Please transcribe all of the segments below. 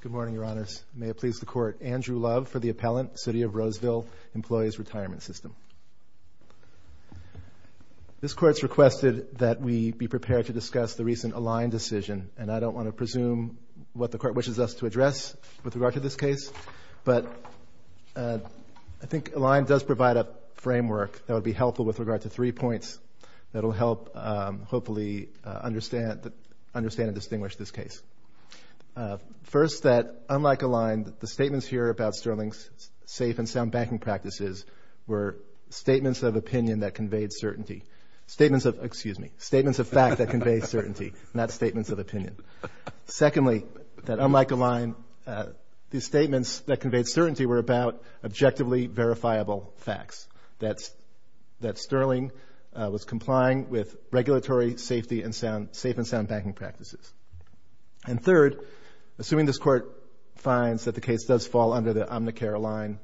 Good morning, Your Honors. May it please the Court, Andrew Love for the Appellant, City of Roseville Employees' Retirement System. This Court's requested that we be prepared to discuss the recent Align decision, and I don't want to presume what the Court wishes us to address with regard to this case, but I think Align does provide a framework that would be helpful with regard to three points that will help hopefully understand and distinguish this case. First, that unlike Align, the statements here about Sterling's safe and sound banking practices were statements of opinion that conveyed certainty. Statements of, excuse me, statements of fact that conveyed certainty, not statements of opinion. Secondly, that unlike Align, the statements that conveyed certainty were about objectively verifiable facts, that Sterling was complying with regulatory safety and safe and sound banking practices. And third, assuming this Court finds that the case does fall under the Omnicare line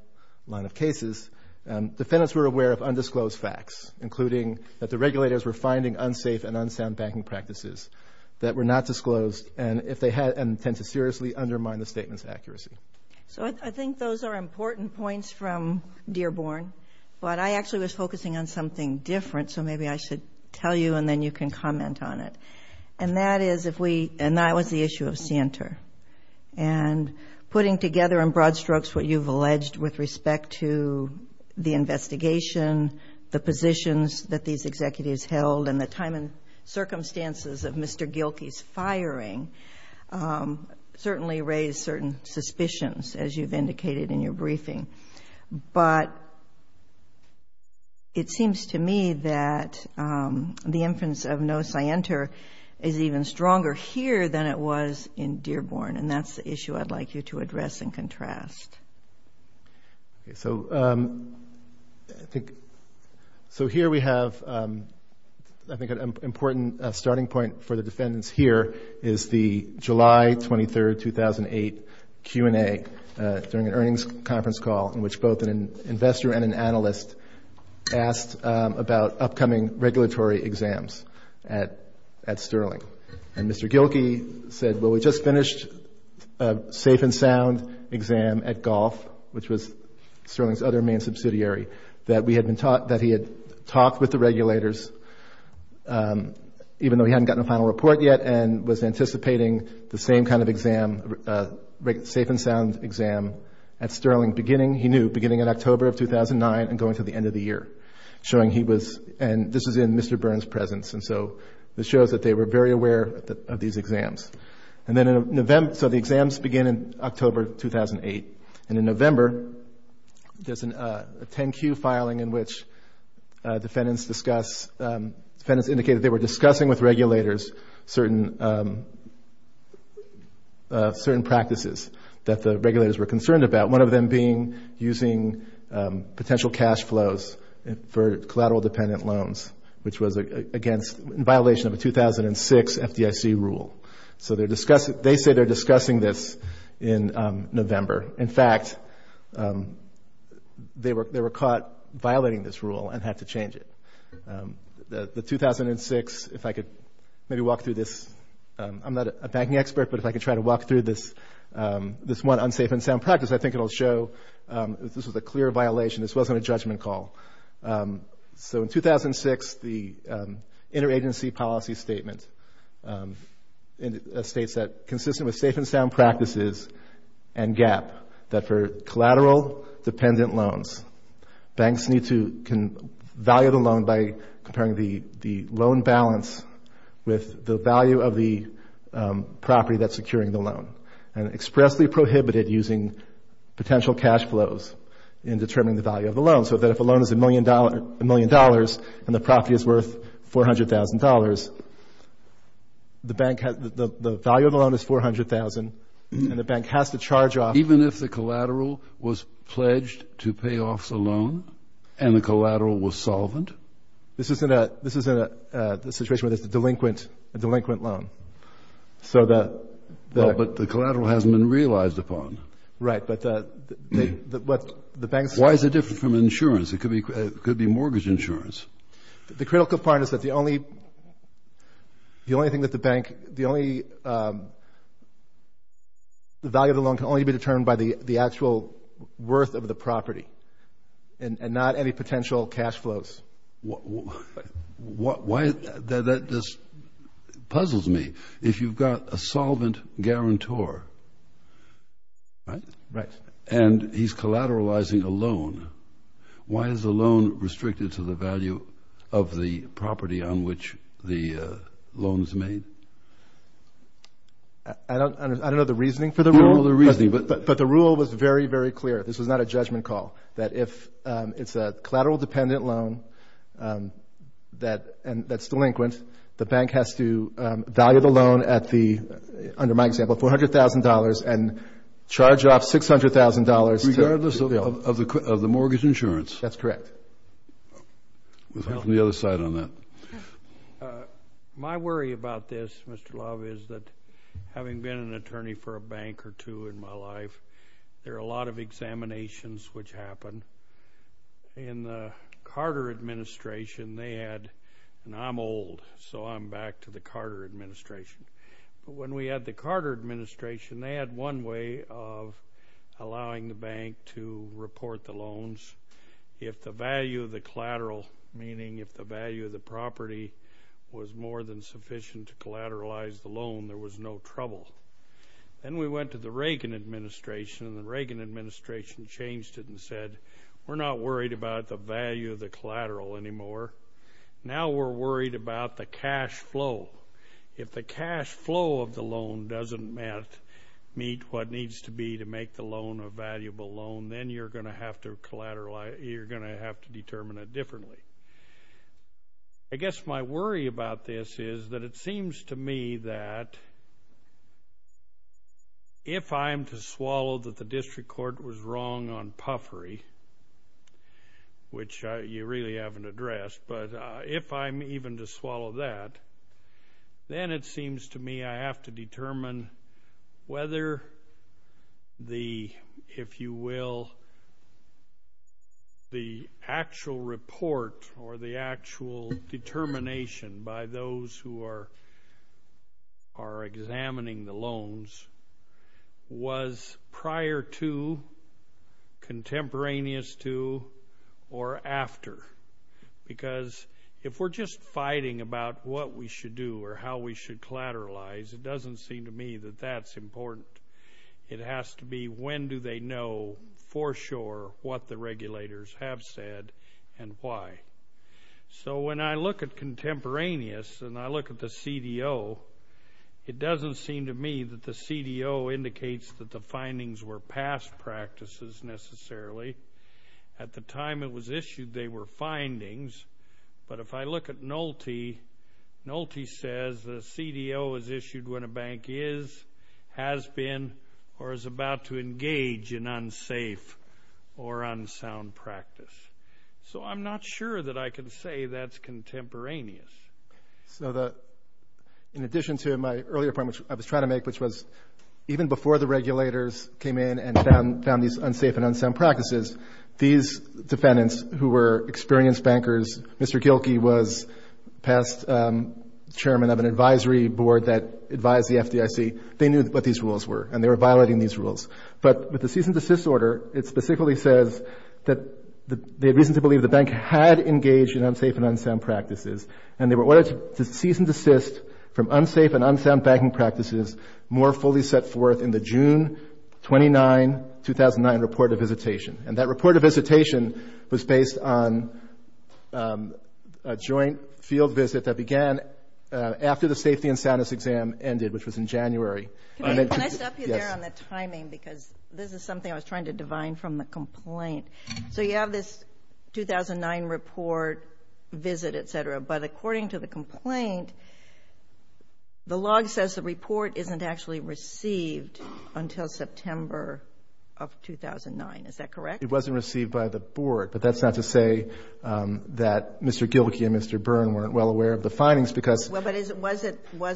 of cases, defendants were aware of undisclosed facts, including that the regulators were finding unsafe and unsound banking practices that were not disclosed and tend to seriously concern. But I actually was focusing on something different, so maybe I should tell you and then you can comment on it. And that is if we, and that was the issue of Santer. And putting together in broad strokes what you've alleged with respect to the investigation, the positions that these executives held, and the time and circumstances of Mr. Gilkey's firing certainly raised certain suspicions, as you've indicated in your briefing. But it seems to me that the inference of no Santer is even stronger here than it was in Dearborn, and that's the issue I'd like you to address and contrast. So I think, so here we have, I think an important starting point for the defendants here is the July 23, 2008 Q&A during an earnings conference call in which both an investor and an investor and an analyst asked about upcoming regulatory exams at Sterling. And Mr. Gilkey said, well, we just finished a safe and sound exam at Golf, which was Sterling's other main subsidiary, that we had been taught, that he had talked with the regulators, even though he hadn't gotten a final report yet, and was anticipating the same kind of exam, safe and sound exam at Sterling beginning, he knew, beginning in October of 2009 and going to the end of the year, showing he was, and this was in Mr. Byrne's presence, and so this shows that they were very aware of these exams. And then in November, so the exams begin in October of 2008, and in November, there's a 10-Q filing in which defendants discuss, defendants indicated they were discussing with regulators certain practices that the regulators were considering about, one of them being using potential cash flows for collateral-dependent loans, which was against, in violation of a 2006 FDIC rule. So they're discussing, they say they're discussing this in November. In fact, they were caught violating this rule and had to change it. The 2006, if I could maybe walk through this, I'm not a banking expert, but if I could try to walk through this one unsafe and sound practice, I think it'll show that this was a clear violation. This wasn't a judgment call. So in 2006, the interagency policy statement states that consistent with safe and sound practices and GAAP, that for collateral-dependent loans, banks need to, can value the loan by comparing the loan balance with the value of the property that's securing the loan, and expressly prohibit it using potential cash flows in determining the value of the loan, so that if a loan is a million dollars and the property is worth $400,000, the bank has, the value of the loan is $400,000, and the bank has to charge off. Even if the collateral was pledged to pay off the loan and the collateral was solvent? This isn't a, this isn't a situation where there's a delinquent, a delinquent loan. So the... Well, but the collateral hasn't been realized upon. Right, but the, what the banks... Why is it different from insurance? It could be, it could be mortgage insurance. The critical part is that the only, the only thing that the bank, the only, the value of the loan can only be determined by the actual worth of the property, and not any potential cash flows. What, why, that just puzzles me. If you've got a solvent guarantor, right? Right. And he's collateralizing a loan, why is the loan restricted to the value of the property on which the loan is made? I don't, I don't know the reasoning for the rule. You don't know the reasoning, but... But the rule was very, very clear. This was not a judgment call, that if it's a collateral dependent loan that, and that's delinquent, the bank has to value the loan at the, under my example, $400,000 and charge off $600,000 to... Regardless of the mortgage insurance. That's correct. We'll have the other side on that. My worry about this, Mr. Love, is that having been an attorney for a bank or two in my life, there are a lot of examinations which happen. In the Carter administration, they had, and I'm old, so I'm back to the Carter administration, but when we had the Carter administration, they had one way of allowing the bank to report the loans. If the value of the collateral, meaning if the value of the property was more than sufficient to collateralize the loan, there was no trouble. Then we went to the Reagan administration, and the Reagan administration changed it and said, we're not worried about the value of the collateral anymore. Now we're worried about the cash flow. If the cash flow of the loan doesn't meet what needs to be to make the loan a valuable loan, then you're going to have to collateralize, you're going to have to determine it differently. I guess my worry about this is that it seems to me that if I'm to swallow that the district court was wrong on puffery, which you really haven't addressed, but if I'm even to swallow that, then it seems to me I have to determine whether the, if you will, the actual report or the actual determination by those who are examining the loans was prior to, contemporaneous to, or after. Because if we're just fighting about what we should do or how we should collateralize, it doesn't seem to me that that's important. It has to be when do they know for sure what the regulators have said and why. So when I look at contemporaneous and I look at the CDO, it doesn't seem to me that the CDO indicates that the findings were past practices necessarily. At the time it was issued, they were findings. But if I look at NOLTI, NOLTI says the CDO is issued when a bank is, has been, or is about to engage in unsafe or unsafe activities. So I'm not sure that I can say that's contemporaneous. So the, in addition to my earlier point, which I was trying to make, which was even before the regulators came in and found these unsafe and unsound practices, these defendants who were experienced bankers, Mr. Gilkey was past chairman of an advisory board that advised the FDIC. They knew what these rules were and they were violating these rules. But with the cease and desist order, it specifically says that they had reason to believe the bank had engaged in unsafe and unsound practices. And they were ordered to cease and desist from unsafe and unsound banking practices more fully set forth in the June 29, 2009 report of visitation. And that report of visitation was based on a joint field visit that began after the safety and soundness exam ended, which was in January. Can I stop you there on the timing? Because this is something I was trying to divine from the complaint. So you have this 2009 report, visit, et cetera. But according to the complaint, the log says the report isn't actually received until September of 2009. Is that correct? It wasn't received by the board. But that's not to say that Mr. Gilkey and Mr. Byrne weren't well aware of the findings because... Well, but was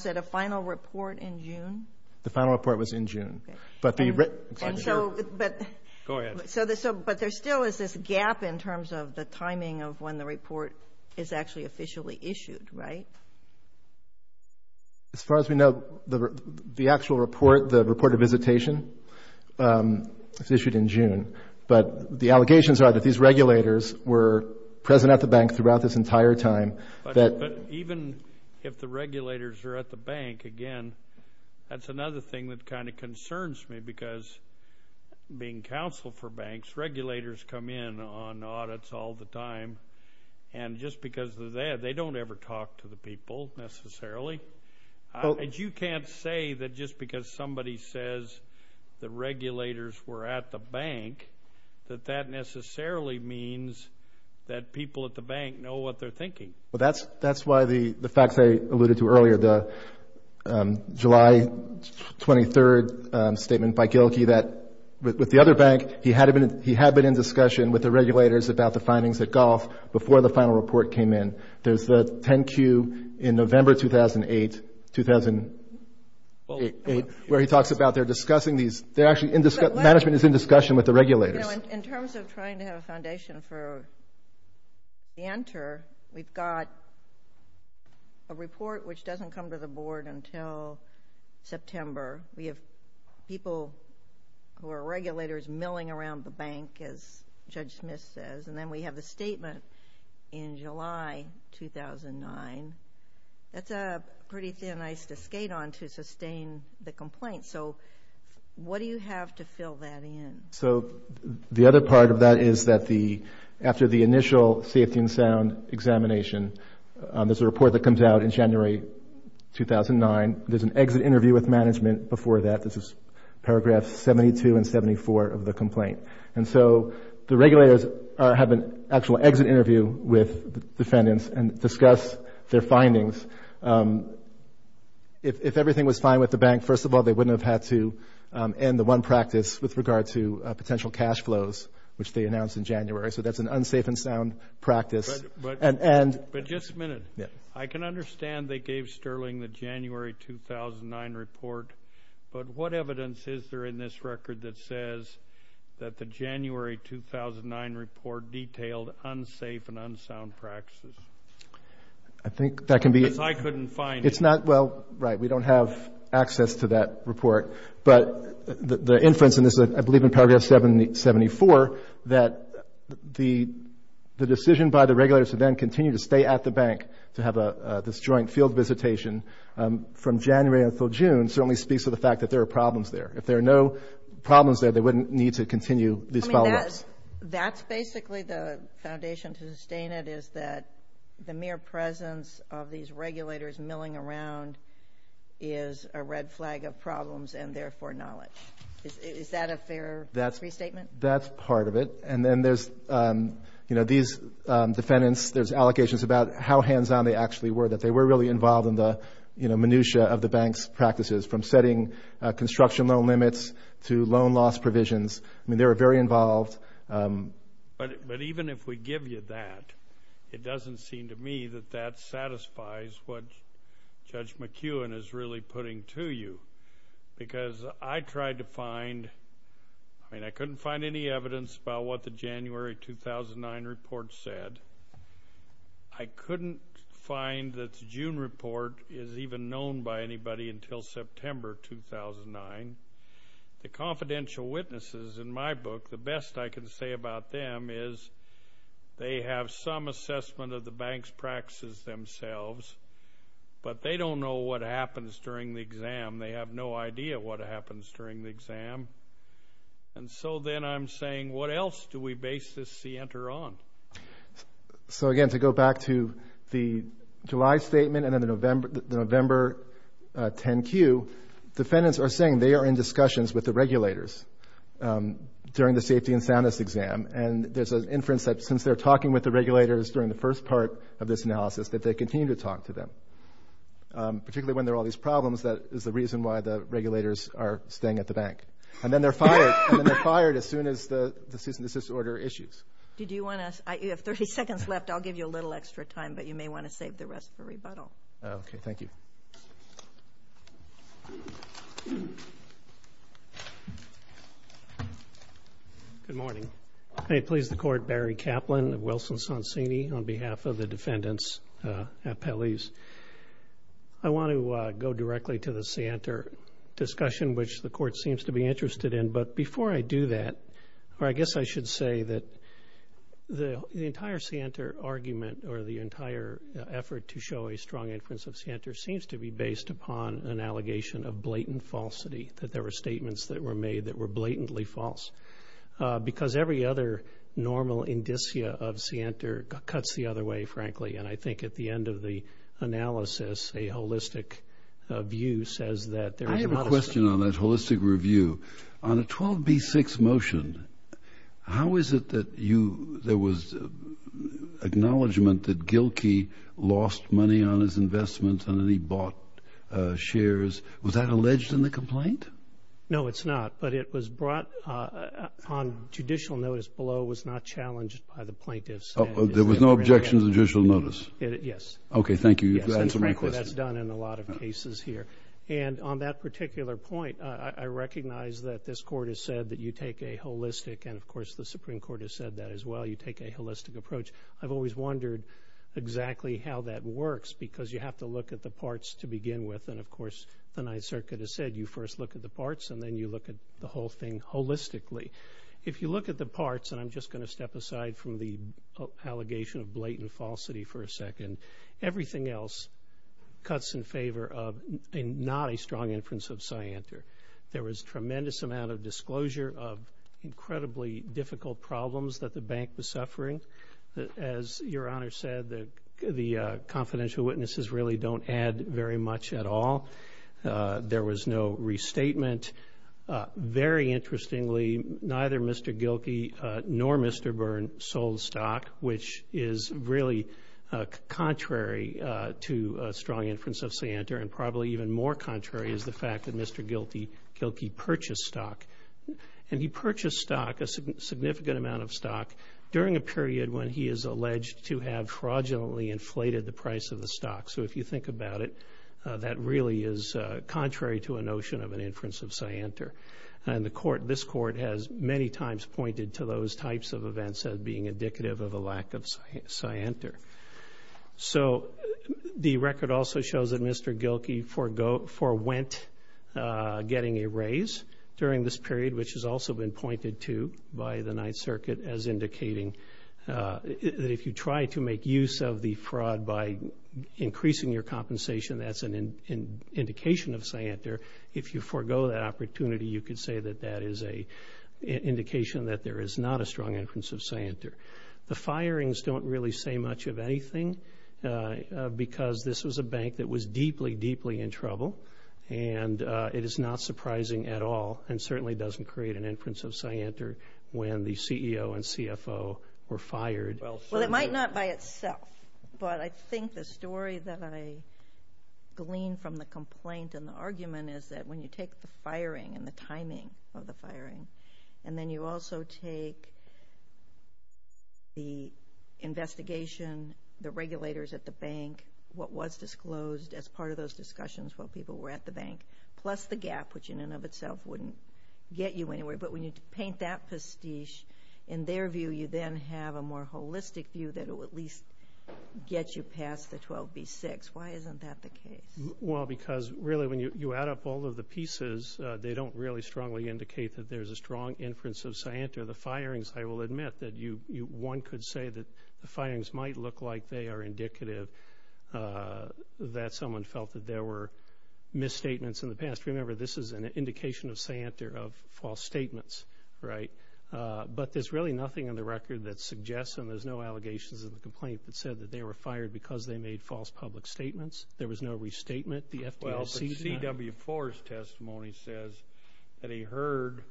it a final report in June? The final report was in June. And so, but there still is this gap in terms of the timing of when the report is actually officially issued, right? As far as we know, the actual report, the report of visitation, was issued in June. But the allegations are that these regulators were present at the bank throughout this entire time. But even if the regulators are at the bank, again, that's another thing that kind of concerns me because being counsel for banks, regulators come in on audits all the time. And just because they're there, they don't ever talk to the people necessarily. And you can't say that just because somebody says the regulators were at the bank, that that necessarily means that people at the bank know what they're thinking. Well, that's why the facts I alluded to earlier, the July 23rd statement by Gilkey that with the other bank, he had been in discussion with the regulators about the findings at Golf before the final report came in. There's the 10Q in November 2008 where he talks about they're discussing these. They're actually, management is in discussion with the regulators. In terms of trying to have a foundation for the enter, we've got a report which doesn't come to the board until September. We have people who are regulators milling around the bank as Judge Smith says. And then we have the statement in July 2009. That's a pretty thin ice to skate on to sustain the complaint. So what do you have to fill that in? So the other part of that is that after the initial safety and sound examination, there's a report that comes out in January 2009. There's an exit interview with management before that. This is paragraph 72 and 74 of the complaint. And so the regulators have an actual exit interview with defendants and discuss their findings. If everything was fine with the potential cash flows, which they announced in January. So that's an unsafe and sound practice. But just a minute. I can understand they gave Sterling the January 2009 report. But what evidence is there in this record that says that the January 2009 report detailed unsafe and unsound practices? I think that can be. Because I couldn't find it. Well, right. We don't have access to that report. But the inference in this, I believe in paragraph 74, that the decision by the regulators to then continue to stay at the bank to have this joint field visitation from January until June certainly speaks to the fact that there are problems there. If there are no problems there, they wouldn't need to continue these follow ups. That's basically the foundation to sustain it is that the mere presence of these regulators milling around is a red flag of problems and therefore knowledge. Is that a fair restatement? That's part of it. And then there's, you know, these defendants, there's allocations about how hands on they actually were, that they were really involved in the, you know, minutiae of the bank's practices from setting construction loan limits to loan loss provisions. I mean, they were very involved. But even if we give you that, it doesn't seem to me that that satisfies what Judge McEwen is really putting to you. Because I tried to find, I mean, I couldn't find any evidence about what the January 2009 report said. I couldn't find that the June report is even known by anybody until September 2009. The confidential witnesses in my book, the best I can say about them is they have some assessment of the bank's practices themselves, but they don't know what happens during the exam. They have no idea what happens during the exam. And so then I'm saying, what else do we base this center on? So again, to go back to the July statement and then the November 10 Q, defendants are saying they are in discussions with the regulators during the safety and soundness exam. And there's an inference that since they're talking with the regulators during the first part of this analysis, that they continue to talk to them. Particularly when there are all these problems, that is the reason why the regulators are staying at the bank. And then they're fired. And then they're fired as soon as the cease and desist order issues. Did you want to, you have 30 seconds left. I'll give you a little extra time, but you may want to save the rest for rebuttal. Okay. Thank you. Good morning. May it please the Court, Barry Kaplan of Wilson-Sonsini on behalf of the defendants at Pelley's. I want to go directly to the CNTR discussion, which the Court seems to be interested in. But before I do that, I guess I should say that the entire CNTR argument or the entire effort to show a strong inference of CNTR seems to be based upon an allegation of blatant falsity, that there were statements that were made that were blatantly false. Because every other normal indicia of CNTR cuts the other way, frankly. And I think at the end of the analysis, a holistic view says that there is a lot of... I have a question on that holistic review. On a 12B6 motion, how is it that you, there was acknowledgment that Gilkey lost money on his investments and that he bought shares. Was that alleged in the complaint? No, it's not. But it was brought on judicial notice below. It was not challenged by the plaintiffs. There was no objection to judicial notice? Yes. Okay. Thank you. You've answered my question. Yes. And frankly, that's done in a lot of cases here. And on that particular point, I recognize that this Court has said that you take a holistic, and of course, the Supreme Court has said that you take a holistic approach. I've always wondered exactly how that works, because you have to look at the parts to begin with. And of course, the Ninth Circuit has said you first look at the parts and then you look at the whole thing holistically. If you look at the parts, and I'm just going to step aside from the allegation of blatant falsity for a second, everything else cuts in favor of not a strong inference of CNTR. There was tremendous amount of disclosure of incredibly difficult problems that the As Your Honor said, the confidential witnesses really don't add very much at all. There was no restatement. Very interestingly, neither Mr. Gilkey nor Mr. Byrne sold stock, which is really contrary to a strong inference of CNTR, and probably even more contrary is the fact that Mr. Gilkey purchased stock. And he purchased stock, a significant amount of the period when he is alleged to have fraudulently inflated the price of the stock. So if you think about it, that really is contrary to a notion of an inference of CNTR. And this court has many times pointed to those types of events as being indicative of a lack of CNTR. So the record also shows that Mr. Gilkey forewent getting a raise during this period, which has also been pointed to by the Ninth Circuit as indicating that if you try to make use of the fraud by increasing your compensation, that's an indication of CNTR. If you forego that opportunity, you could say that that is an indication that there is not a strong inference of CNTR. The firings don't really say much of anything because this was a bank that was deeply, deeply in trouble. And it is not surprising at all and certainly doesn't create an inference of CNTR when the CEO and CFO were fired. Well, it might not by itself, but I think the story that I gleaned from the complaint and the argument is that when you take the firing and the timing of the firing, and then you also take the investigation, the regulators at the bank, what was disclosed as part of those discussions while people were at the bank, plus the gap, which in and of itself wouldn't get you anywhere. But when you paint that pastiche, in their view, you then have a more holistic view that it will at least get you past the 12B6. Why isn't that the case? Well, because really when you add up all of the pieces, they don't really strongly indicate that there is a strong inference of CNTR. The firings, I will admit that one could say that the firings might look like they are indicative that someone felt that there were misstatements in the past. Remember, this is an indication of CNTR of false statements, right? But there's really nothing in the record that suggests, and there's no allegations in the complaint, that said that they were fired because they made false public statements. There was no restatement. The FDIC did not. CW4's testimony says that he heard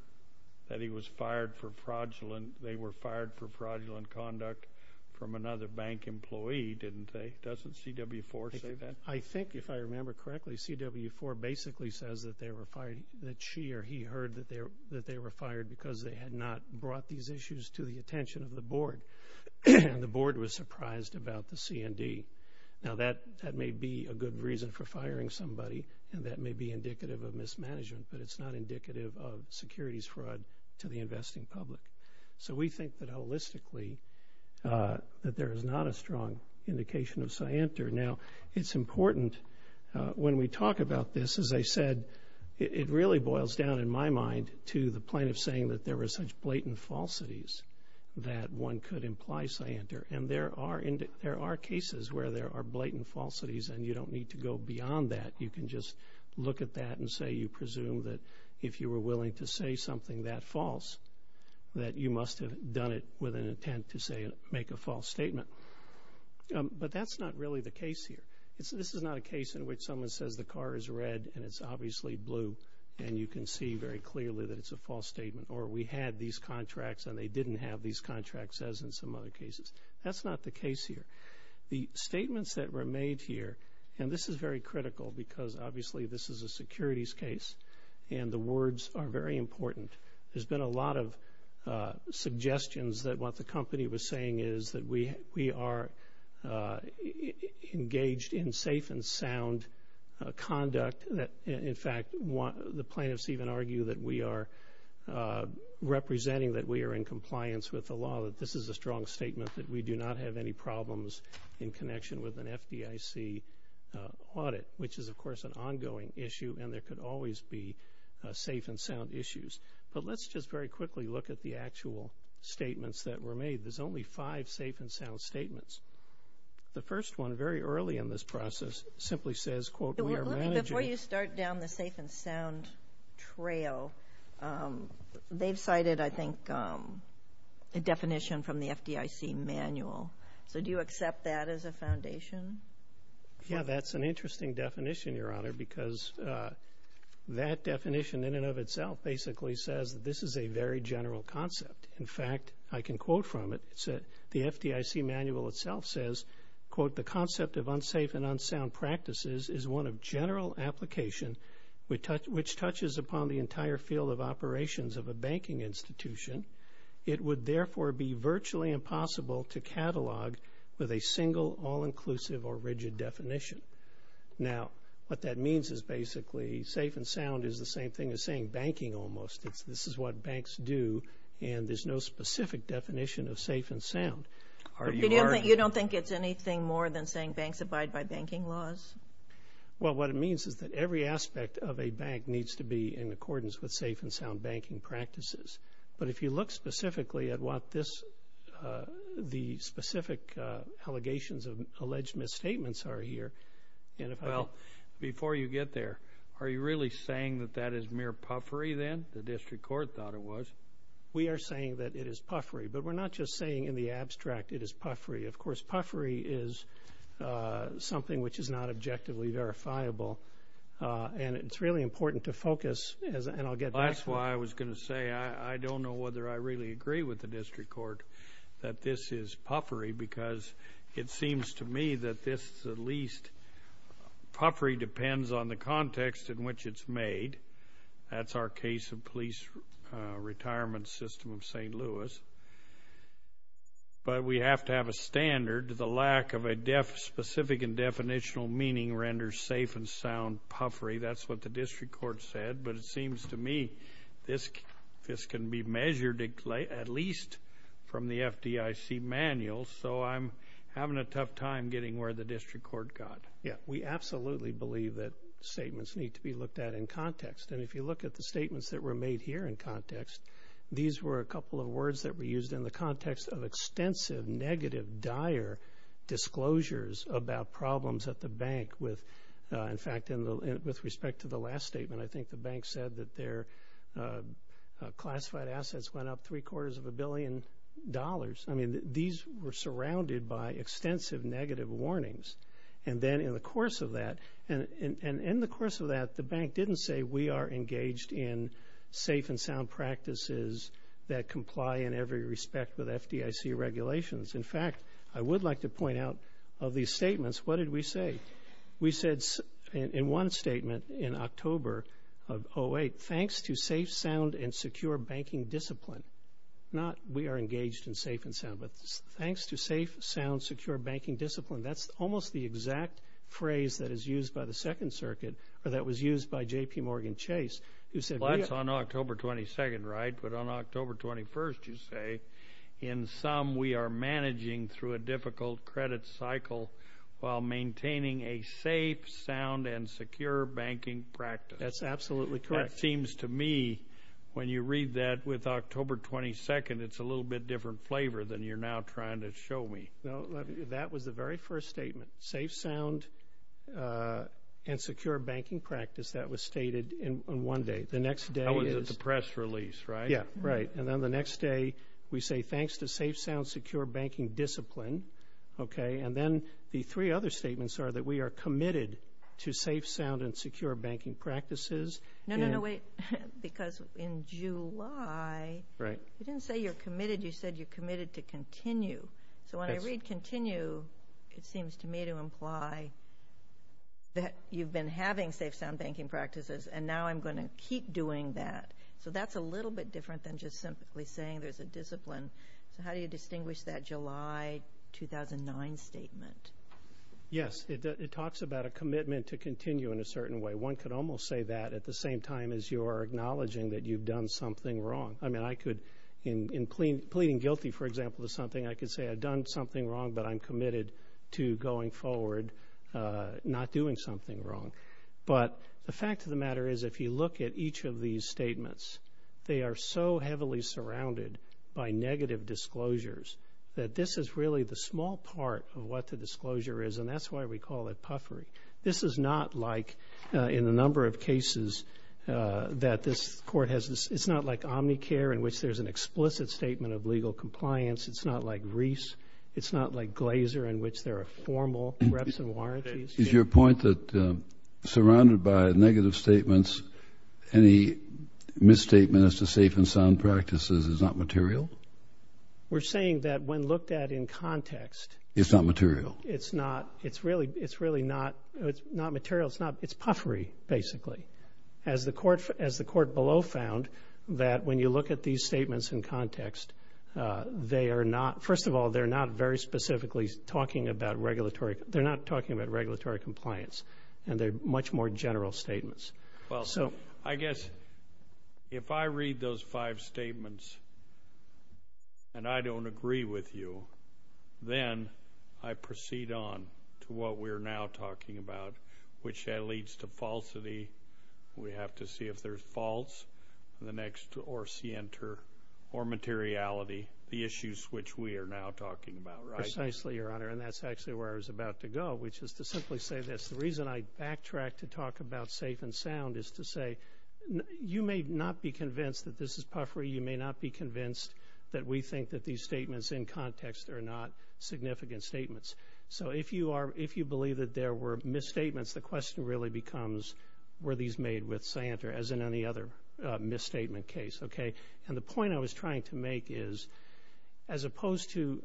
that he was fired for fraudulent, they were fired for fraudulent conduct from another bank employee, didn't they? Doesn't CW4 say that? I think, if I remember correctly, CW4 basically says that they were fired, that she or he heard that they were fired because they had not brought these issues to the attention of the Board, and the Board was surprised about the CND. Now, that may be a good reason for it to be indicative of mismanagement, but it's not indicative of securities fraud to the investing public. So we think that, holistically, that there is not a strong indication of CNTR. Now, it's important, when we talk about this, as I said, it really boils down, in my mind, to the plaintiff saying that there were such blatant falsities that one could imply CNTR, and there are cases where there are blatant falsities, and you don't need to go beyond that. You can just look at that and say you presume that, if you were willing to say something that false, that you must have done it with an intent to make a false statement. But that's not really the case here. This is not a case in which someone says the car is red and it's obviously blue, and you can see very clearly that it's a false statement, or we had these contracts and they didn't have these contracts, as in some other cases. That's not the case here. The statements that were made here, and this is very critical because, obviously, this is a securities case, and the words are very important. There's been a lot of suggestions that what the company was saying is that we are engaged in safe and sound conduct that, in fact, the plaintiffs even argue that we are representing that we are in compliance with the law, that this is a strong statement, that we do not have any problems in connection with an FDIC audit, which is, of course, an ongoing issue, and there could always be safe and sound issues. But let's just very quickly look at the actual statements that were made. There's only five safe and sound statements. The first one, very early in this process, simply says, quote, we are managing... A definition from the FDIC manual. So do you accept that as a foundation? Yeah, that's an interesting definition, Your Honor, because that definition, in and of itself, basically says that this is a very general concept. In fact, I can quote from it. The FDIC manual itself says, quote, the concept of unsafe and unsound practices is one of general application which touches upon the entire field of operations of a banking institution. It would, therefore, be virtually impossible to catalog with a single, all-inclusive or rigid definition. Now, what that means is basically safe and sound is the same thing as saying banking almost. This is what banks do, and there's no specific definition of safe and sound. You don't think it's anything more than saying banks abide by banking laws? Well, what it means is that every aspect of a bank needs to be in accordance with safe and sound banking practices. But if you look specifically at what the specific allegations of alleged misstatements are here... Well, before you get there, are you really saying that that is mere puffery, then, the District Court thought it was? We are saying that it is puffery, but we're not just saying in the abstract it is puffery. Of course, puffery is something which is not objectively verifiable, and it's really important to focus... That's why I was going to say I don't know whether I really agree with the District Court that this is puffery, because it seems to me that this is at least... Puffery depends on the context in which it's made. That's our case of Police Retirement System of St. Louis. But we have to have a standard. The lack of a specific and definitional meaning renders safe and sound puffery. That's what the District Court said, but it seems to me this can be measured at least from the FDIC manual, so I'm having a tough time getting where the District Court got. Yeah, we absolutely believe that statements need to be looked at in context. And if you look at the statements that were made here in context, these were a couple of words that were used in the context of extensive, negative, dire disclosures about problems at the bank with... In fact, with respect to the last statement, I think the bank said that their classified assets went up three-quarters of a billion dollars. I mean, these were surrounded by extensive, negative warnings. And then in the course of that, the bank didn't say we are engaged in safe and sound practices that comply in every respect with FDIC regulations. In fact, I would like to point out of these statements, what did we say? We said in one statement in October of 2008, thanks to safe, sound, and secure banking discipline. Not we are engaged in safe and sound, but thanks to safe, sound, secure banking discipline. That's almost the exact phrase that is used by the Second Circuit, or that was used by J.P. Morgan Chase, who said... managing through a difficult credit cycle while maintaining a safe, sound, and secure banking practice. That's absolutely correct. That seems to me, when you read that with October 22nd, it's a little bit different flavor than you're now trying to show me. No, that was the very first statement. Safe, sound, and secure banking practice, that was stated in one day. The next day is... That was at the press release, right? Yeah, right. And then the next day, we say thanks to safe, sound, secure banking discipline. And then the three other statements are that we are committed to safe, sound, and secure banking practices. No, no, no, wait. Because in July, you didn't say you're committed. You said you're committed to continue. So when I read continue, it seems to me to imply that you've been having safe, sound banking practices, and now I'm going to keep doing that. So that's a little bit different than just simply saying there's a discipline. So how do you distinguish that July 2009 statement? Yes, it talks about a commitment to continue in a certain way. One could almost say that at the same time as you are acknowledging that you've done something wrong. I mean, I could, in pleading guilty, for example, to something, I could say I've done something wrong, but I'm committed to going forward not doing something wrong. But the fact of the matter is, if you look at each of these statements, they are so heavily surrounded by negative disclosures that this is really the small part of what the disclosure is, and that's why we call it puffery. This is not like, in a number of cases that this court has, it's not like Omnicare in which there's an explicit statement of legal compliance. It's not like Reese. It's not like Glaser in which there are formal reps and warranties. Is your point that surrounded by negative statements, any misstatement as to safe and sound practices is not material? We're saying that when looked at in context... It's not material. It's not. It's really not. It's not material. It's puffery, basically. As the court below found that when you look at these statements in context, they are not... First of all, they're not very specifically talking about regulatory... They're not talking about regulatory compliance, and they're much more general statements. Well, I guess if I read those five statements and I don't agree with you, then I proceed on to what we're now talking about, which that leads to falsity. We have to see if there's false or materiality, the issues which we are now talking about. Precisely, Your Honor. And that's actually where I was about to go, which is to simply say this. The reason I backtrack to talk about safe and sound is to say you may not be convinced that this is puffery. You may not be convinced that we think that these statements in context are not significant statements. So if you believe that there were misstatements, the misstatement case. And the point I was trying to make is, as opposed to...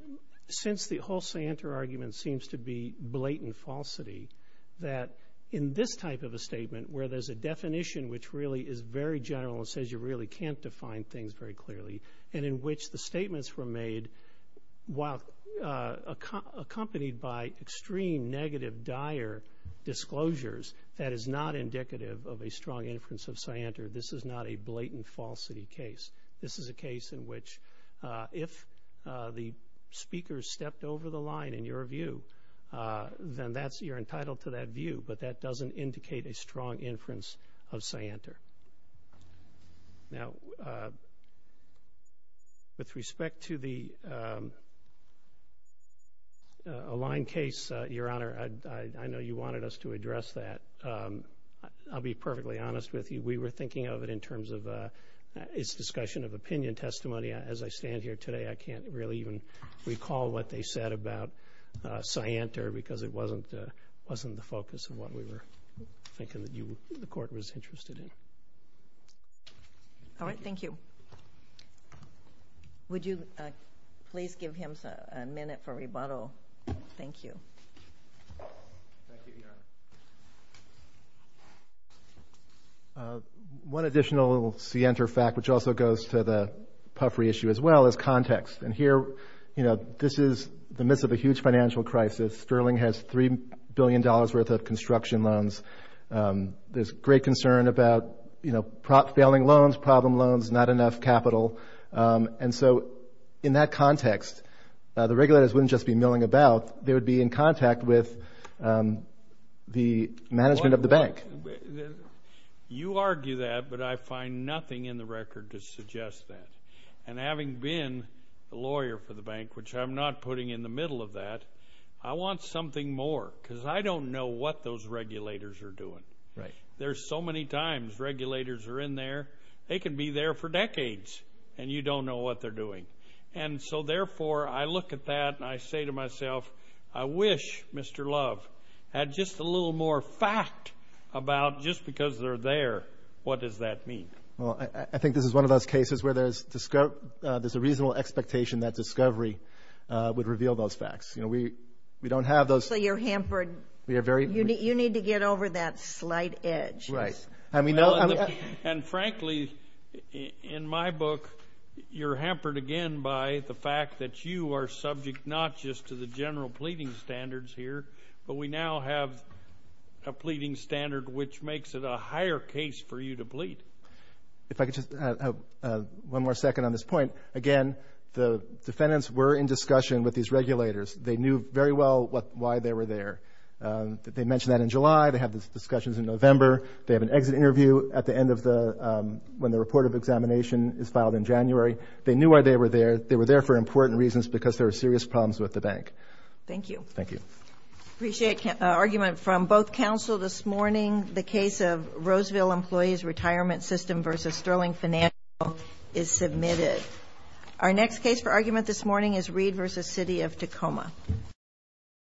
Since the whole scienter argument seems to be blatant falsity, that in this type of a statement where there's a definition which really is very general and says you really can't define things very clearly, and in which the statements were made while accompanied by extreme negative dire disclosures, that is not indicative of a strong inference of scienter. This is not a blatant falsity case. This is a case in which if the speaker stepped over the line in your view, then you're entitled to that view, but that doesn't indicate a strong inference of scienter. Now, with respect to the Align case, Your Honor, I know you wanted us to address that. I'll be perfectly honest with you. We were thinking of it in terms of its discussion of opinion testimony. As I stand here today, I can't really even recall what they said about scienter because it wasn't the focus of what we were thinking that the Court was interested in. All right. Thank you. Would you please give him a minute for rebuttal? Thank you. Thank you, Your Honor. One additional scienter fact, which also goes to the puffery issue as well, is context. Here, this is the midst of a huge financial crisis. Sterling has $3 concern about failing loans, problem loans, not enough capital. In that context, the regulators wouldn't just be milling about. They would be in contact with the management of the bank. You argue that, but I find nothing in the record to suggest that. Having been a lawyer for the bank, which I'm not putting in the middle of that, I want something more because I don't know what those regulators are doing. There's so many times regulators are in there. They can be there for decades, and you don't know what they're doing. Therefore, I look at that, and I say to myself, I wish Mr. Love had just a little more fact about just because they're there. What does that mean? I think this is one of those cases where there's a reasonable expectation that discovery would reveal those facts. We don't have those. Obviously, you're hampered. You need to get over that slight edge. Right. Frankly, in my book, you're hampered again by the fact that you are subject not just to the general pleading standards here, but we now have a pleading standard which makes it a higher case for you to plead. If I could just have one more second on this point. Again, the defendants were in discussion with these regulators. They knew very well why they were there. They mentioned that in July. They have these discussions in November. They have an exit interview at the end of the, when the report of examination is filed in January. They knew why they were there. They were there for important reasons because there are serious problems with the bank. Thank you. Thank you. I appreciate the argument from both counsel this morning. The case of Roseville Employees Retirement System v. Sterling Financial is submitted. Our next case for argument this morning is Reed v. City of Tacoma.